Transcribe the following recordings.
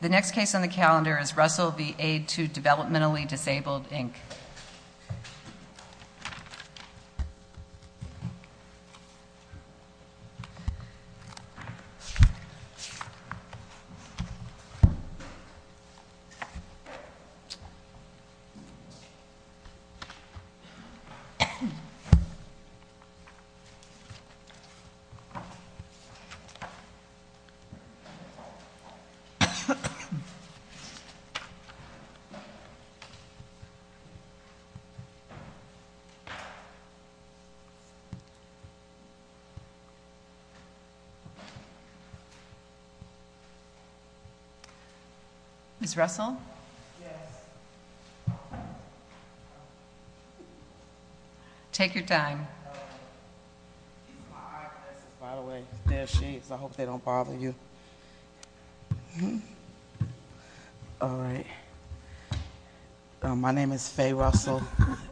The next case on the calendar is Russell v. Aid to Developmentally Disabled, Inc. Ms. Russell? Take your time My name is Faye Russell,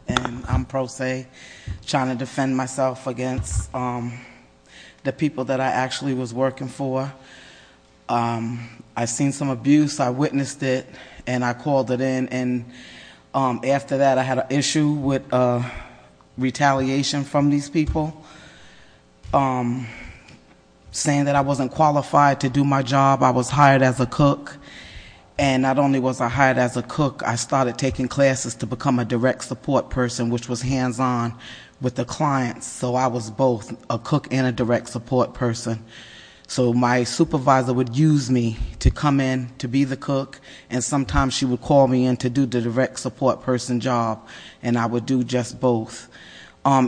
and I'm pro se, trying to defend myself against the people that I actually was working for. I've seen some abuse, I've witnessed it, and I called it in, and after that I had an issue with retaliation from these people, saying that I wasn't qualified to do my job. I was hired as a cook, and not only was I hired as a cook, I started taking classes to become a direct support person, which was hands-on with the clients, so I was both a cook and a direct support person. So my supervisor would use me to come in to be the cook, and sometimes she would call me in to do the direct support person job, and I would do just both.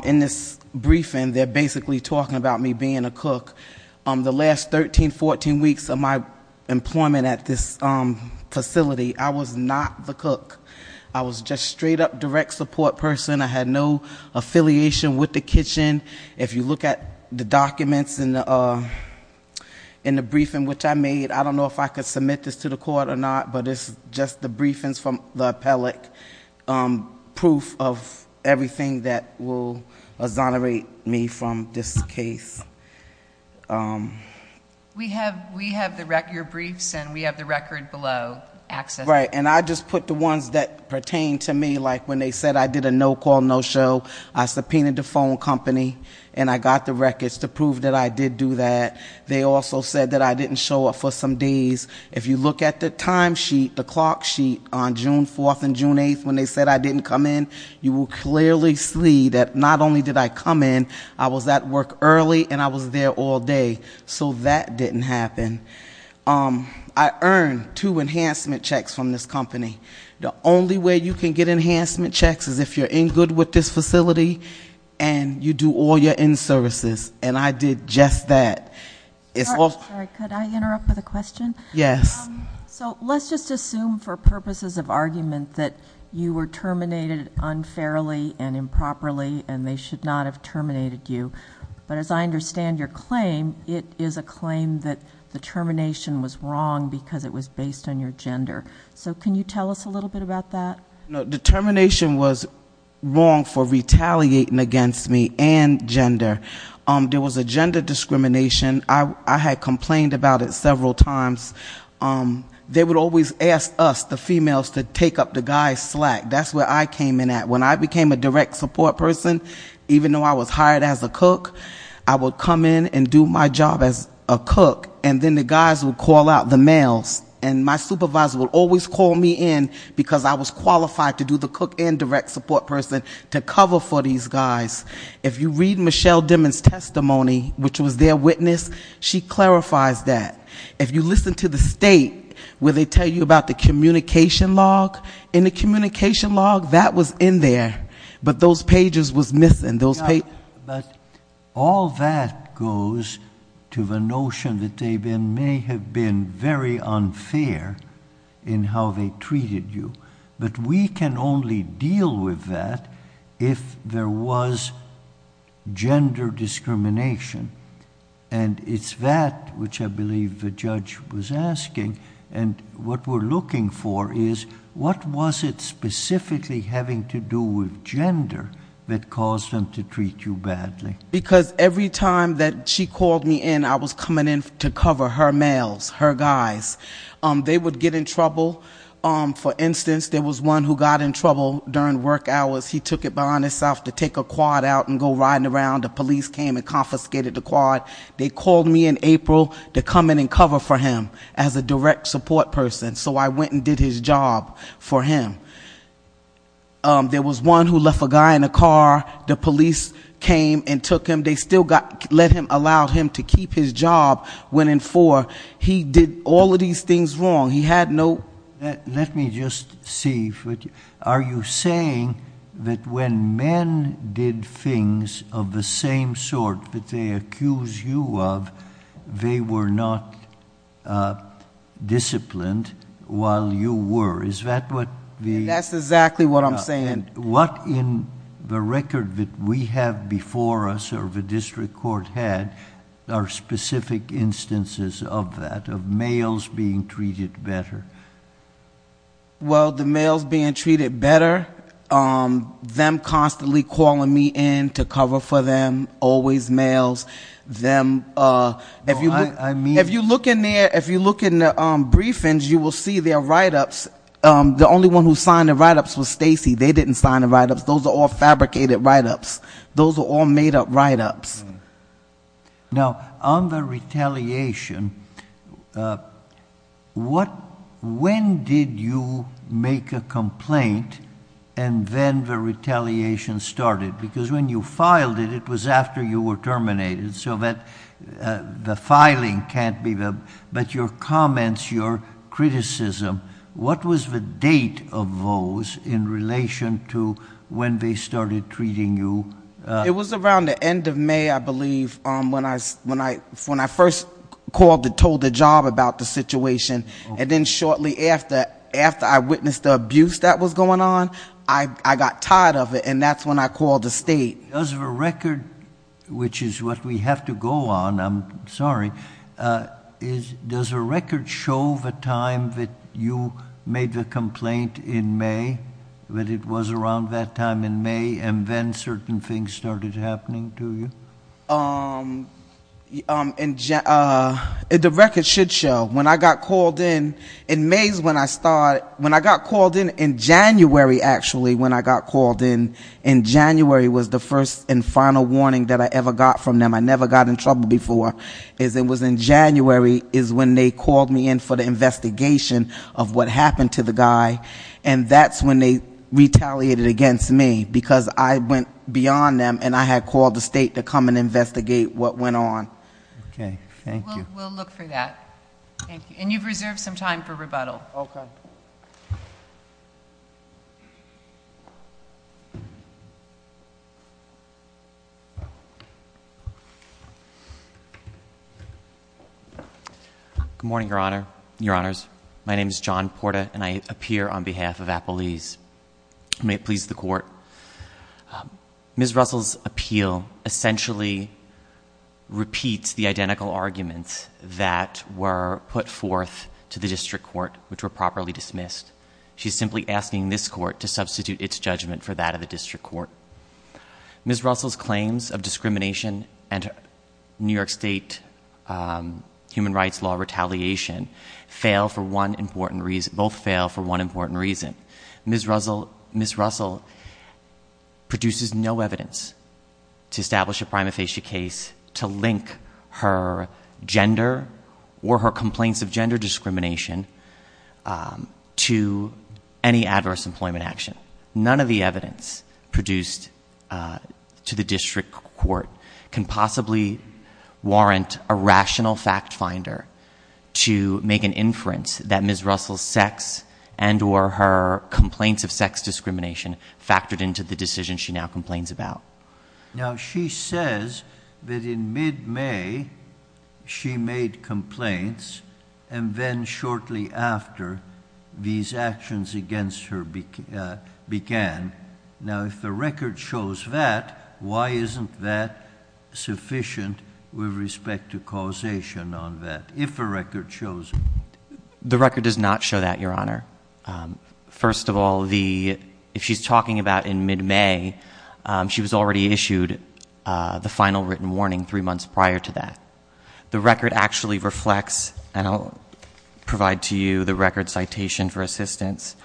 In this briefing, they're basically talking about me being a cook. The last 13, 14 weeks of my employment at this facility, I was not the cook. I was just straight-up direct support person, I had no affiliation with the kitchen. If you look at the documents in the briefing which I made, I don't know if I could submit this to the court or not, but it's just the briefings from the appellate, proof of everything that will exonerate me from this case. We have your briefs, and we have the record below, access. Right, and I just put the ones that pertain to me, like when they said I did a no-call, no-show, I subpoenaed the phone company, and I got the records to prove that I did do that. They also said that I didn't show up for some days. If you look at the time sheet, the clock sheet on June 4th and June 8th when they said I didn't come in, you will clearly see that not only did I come in, I was at work early and I was there all day. So that didn't happen. I earned two enhancement checks from this company. The only way you can get enhancement checks is if you're in good with this facility and you do all your in-services. And I did just that. It's- Sorry, could I interrupt with a question? Yes. So let's just assume for purposes of argument that you were terminated unfairly and improperly and they should not have terminated you. But as I understand your claim, it is a claim that the termination was wrong because it was based on your gender. So can you tell us a little bit about that? The termination was wrong for retaliating against me and gender. There was a gender discrimination. I had complained about it several times. They would always ask us, the females, to take up the guy's slack. That's where I came in at. When I became a direct support person, even though I was hired as a cook, I would come in and do my job as a cook, and then the guys would call out the males. And my supervisor would always call me in because I was qualified to do the cook and direct support person to cover for these guys. If you read Michelle Dimmon's testimony, which was their witness, she clarifies that. If you listen to the state, where they tell you about the communication log. In the communication log, that was in there, but those pages was missing. But all that goes to the notion that they may have been very unfair in how they treated you. But we can only deal with that if there was gender discrimination. And it's that which I believe the judge was asking. And what we're looking for is, what was it specifically having to do with to treat you badly? Because every time that she called me in, I was coming in to cover her males, her guys. They would get in trouble. For instance, there was one who got in trouble during work hours. He took it upon himself to take a quad out and go riding around. The police came and confiscated the quad. They called me in April to come in and cover for him as a direct support person. So I went and did his job for him. There was one who left a guy in a car. The police came and took him. They still allowed him to keep his job when in for. He did all of these things wrong. He had no- Let me just see. Are you saying that when men did things of the same sort that they accuse you of, they were not disciplined while you were? Is that what the- That's exactly what I'm saying. What in the record that we have before us, or the district court had, are specific instances of that, of males being treated better? Well, the males being treated better, them constantly calling me in to cover for them, always males, them- I mean- If you look in there, if you look in the briefings, you will see their write-ups. The only one who signed the write-ups was Stacy. They didn't sign the write-ups. Those are all fabricated write-ups. Those are all made up write-ups. Now, on the retaliation, when did you make a complaint and then the retaliation started? Because when you filed it, it was after you were terminated. So that the filing can't be the- But your comments, your criticism, what was the date of those in relation to when they started treating you? It was around the end of May, I believe, when I first called and told the job about the situation. And then shortly after, after I witnessed the abuse that was going on, I got tired of it. And that's when I called the state. As of a record, which is what we have to go on, I'm sorry, does a record show the time that you made the complaint in May? That it was around that time in May and then certain things started happening to you? The record should show. When I got called in, in May is when I started- When I got called in, in January, actually, when I got called in, in January was the first and final warning that I ever got from them. I never got in trouble before. It was in January is when they called me in for the investigation of what happened to the guy. And that's when they retaliated against me, because I went beyond them and I had called the state to come and investigate what went on. Okay, thank you. We'll look for that. Thank you. And you've reserved some time for rebuttal. Okay. Good morning, your honors. My name is John Porta and I appear on behalf of Appalese. May it please the court. Ms. Russell's appeal essentially repeats the identical arguments that were put forth to the district court, which were properly dismissed. She's simply asking this court to substitute its judgment for that of the district court. Ms. Russell's claims of discrimination and New York State human rights law retaliation both fail for one important reason. Ms. Russell produces no evidence to establish a prima facie case to link her gender or her complaints of gender discrimination to any adverse employment action. None of the evidence produced to the district court can possibly warrant a rational fact finder to make an inference that Ms. Russell's sex and or her complaints of sex discrimination factored into the decision she now complains about. Now she says that in mid-May she made complaints and then shortly after these actions against her began. Now if the record shows that, why isn't that sufficient with respect to causation on that, if the record shows it? The record does not show that, your honor. First of all, if she's talking about in mid-May, she was already issued the final written warning three months prior to that. The record actually reflects, and I'll provide to you the record citation for assistance.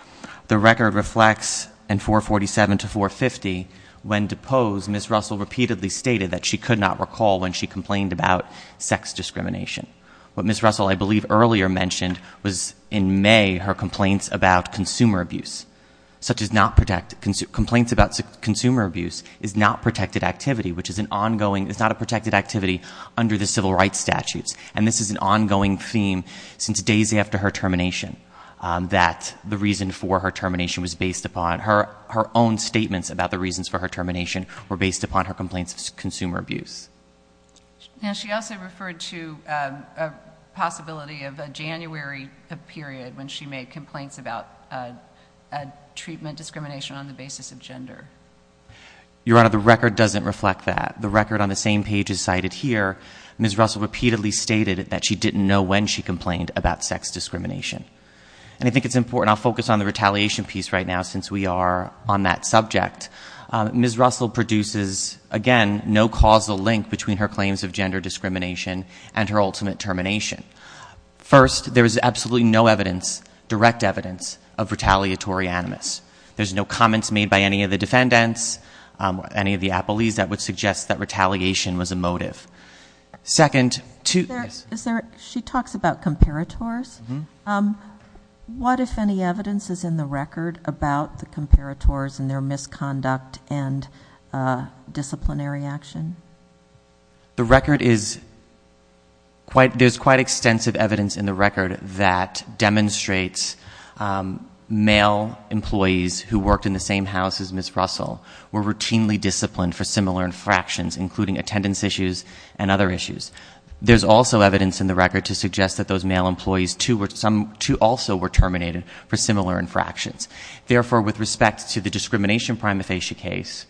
The record reflects in 447 to 450, when deposed, Ms. Russell repeatedly stated that she could not recall when she complained about sex discrimination. What Ms. Russell, I believe, earlier mentioned was in May, her complaints about consumer abuse. Such as complaints about consumer abuse is not protected activity, which is an ongoing, it's not a protected activity under the civil rights statutes. And this is an ongoing theme since days after her termination, that the reason for her termination was based upon, her own statements about the reasons for her termination were based upon her complaints of consumer abuse. Now, she also referred to a possibility of a January period when she made complaints about a treatment discrimination on the basis of gender. Your honor, the record doesn't reflect that. The record on the same page as cited here, Ms. Russell repeatedly stated that she didn't know when she complained about sex discrimination. And I think it's important, I'll focus on the retaliation piece right now since we are on that subject. Ms. Russell produces, again, no causal link between her claims of gender discrimination and her ultimate termination. First, there is absolutely no evidence, direct evidence, of retaliatory animus. There's no comments made by any of the defendants, any of the appellees that would suggest that retaliation was a motive. Second, to- Is there, she talks about comparators. What, if any, evidence is in the record about the comparators and their misconduct and disciplinary action? The record is, there's quite extensive evidence in the record that demonstrates male employees who worked in the same house as Ms. Russell were routinely disciplined for similar infractions, including attendance issues and other issues. There's also evidence in the record to suggest that those male employees, too, also were terminated for similar infractions. Therefore, with respect to the discrimination prima facie case,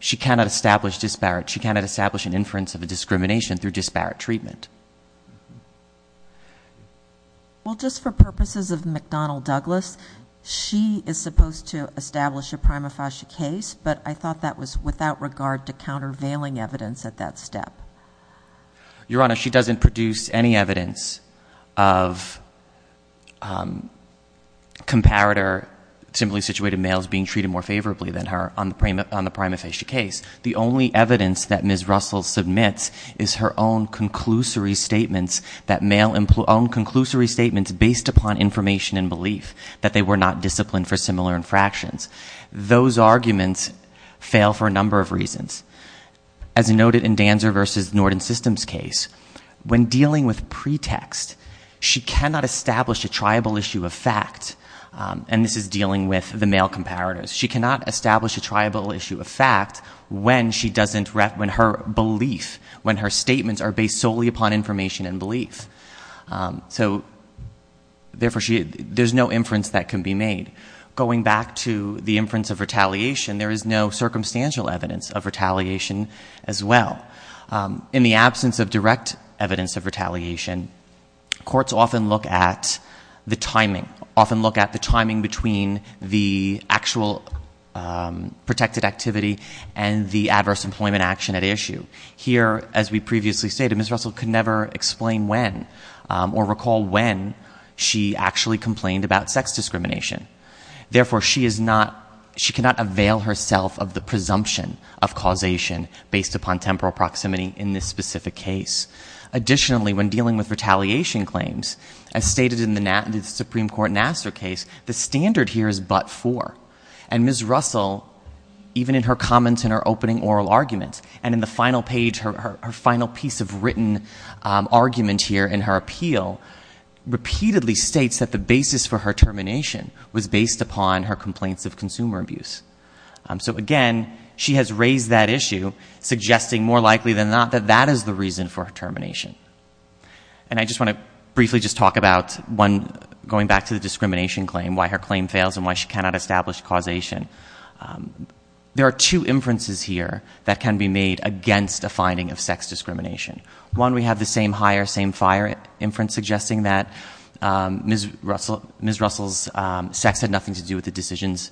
she cannot establish disparate, she cannot establish an inference of a discrimination through disparate treatment. Well, just for purposes of McDonnell Douglas, she is supposed to establish a prima facie case, but I thought that was without regard to countervailing evidence at that step. Your Honor, she doesn't produce any evidence of comparator, simply situated males being treated more favorably than her on the prima facie case. The only evidence that Ms. Russell submits is her own conclusory statements, that male, own conclusory statements based upon information and belief that they were not disciplined for similar infractions. Those arguments fail for a number of reasons. As noted in Danzer versus Norton Systems case, when dealing with pretext, she cannot establish a triable issue of fact, and this is dealing with the male comparators. She cannot establish a triable issue of fact when her belief, when her statements are based solely upon information and belief. So, therefore, there's no inference that can be made. Going back to the inference of retaliation, there is no circumstantial evidence of retaliation as well. In the absence of direct evidence of retaliation, courts often look at the timing, often look at the timing between the actual protected activity and the adverse employment action at issue. Here, as we previously stated, Ms. Russell could never explain when or why she actually complained about sex discrimination. Therefore, she cannot avail herself of the presumption of causation based upon temporal proximity in this specific case. Additionally, when dealing with retaliation claims, as stated in the Supreme Court Nassar case, the standard here is but for. And Ms. Russell, even in her comments in her opening oral argument, and in the final page, her final piece of written argument here in her appeal, repeatedly states that the basis for her termination was based upon her complaints of consumer abuse. So again, she has raised that issue, suggesting more likely than not that that is the reason for her termination. And I just want to briefly just talk about one, going back to the discrimination claim, why her claim fails and why she cannot establish causation. There are two inferences here that can be made against a finding of sex discrimination. One, we have the same hire, same fire inference suggesting that Ms. Russell's sex had nothing to do with the decisions.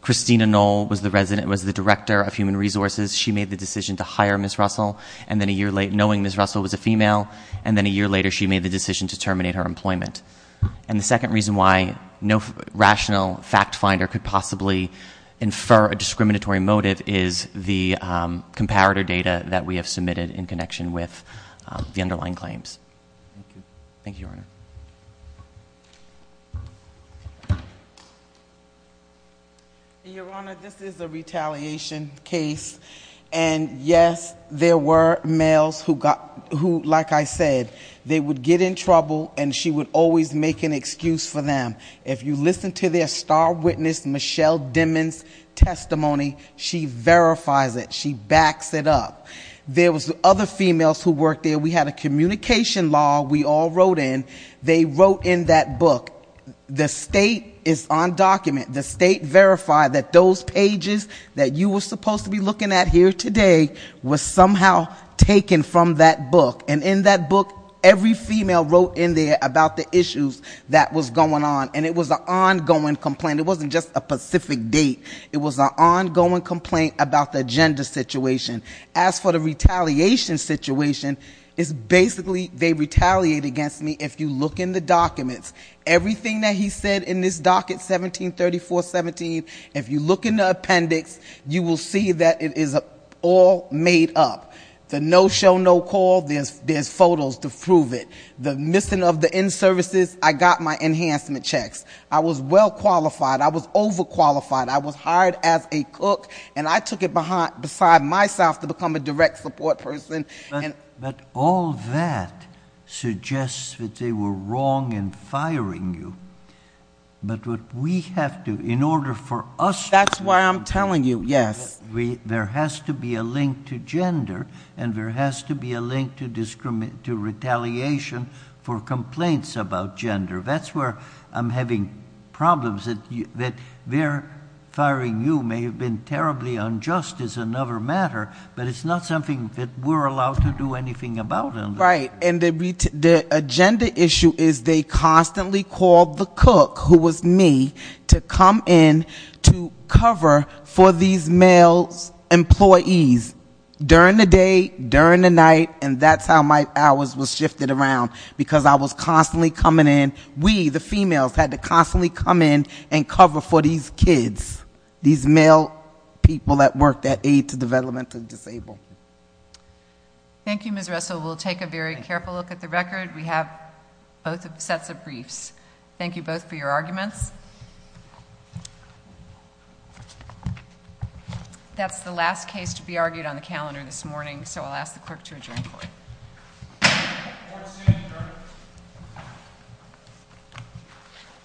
Christina Knoll was the director of human resources. She made the decision to hire Ms. Russell, knowing Ms. Russell was a female. And then a year later, she made the decision to terminate her employment. And the second reason why no rational fact finder could possibly infer a discriminatory motive is the comparator data that we have submitted in connection with the underlying claims. Thank you, Your Honor. Your Honor, this is a retaliation case. And yes, there were males who, like I said, they would get in trouble and she would always make an excuse for them. If you listen to their star witness, Michelle Dimond's testimony, she verifies it. She backs it up. There was other females who worked there. We had a communication law we all wrote in. They wrote in that book, the state is on document. The state verified that those pages that you were supposed to be looking at here today was somehow taken from that book. And in that book, every female wrote in there about the issues that was going on. And it was an ongoing complaint. It wasn't just a specific date. It was an ongoing complaint about the gender situation. As for the retaliation situation, it's basically they retaliate against me if you look in the documents. Everything that he said in this docket, 173417, if you look in the appendix, you will see that it is all made up. The no show, no call, there's photos to prove it. The missing of the in-services, I got my enhancement checks. I was well qualified, I was over qualified, I was hired as a cook. And I took it beside myself to become a direct support person. But all that suggests that they were wrong in firing you. But what we have to, in order for us- That's why I'm telling you, yes. There has to be a link to gender, and there has to be a link to retaliation for complaints about gender. That's where I'm having problems, that their firing you may have been terribly unjust as another matter. But it's not something that we're allowed to do anything about. Right, and the agenda issue is they constantly called the cook, who was me, to come in to cover for these male employees. During the day, during the night, and that's how my hours was shifted around, because I was constantly coming in. We, the females, had to constantly come in and cover for these kids. These male people that worked at Aid to Developmentally Disabled. Thank you, Ms. Russell. We'll take a very careful look at the record. We have both sets of briefs. Thank you both for your arguments. That's the last case to be argued on the calendar this morning, so I'll ask the clerk to adjourn court. Court is adjourned.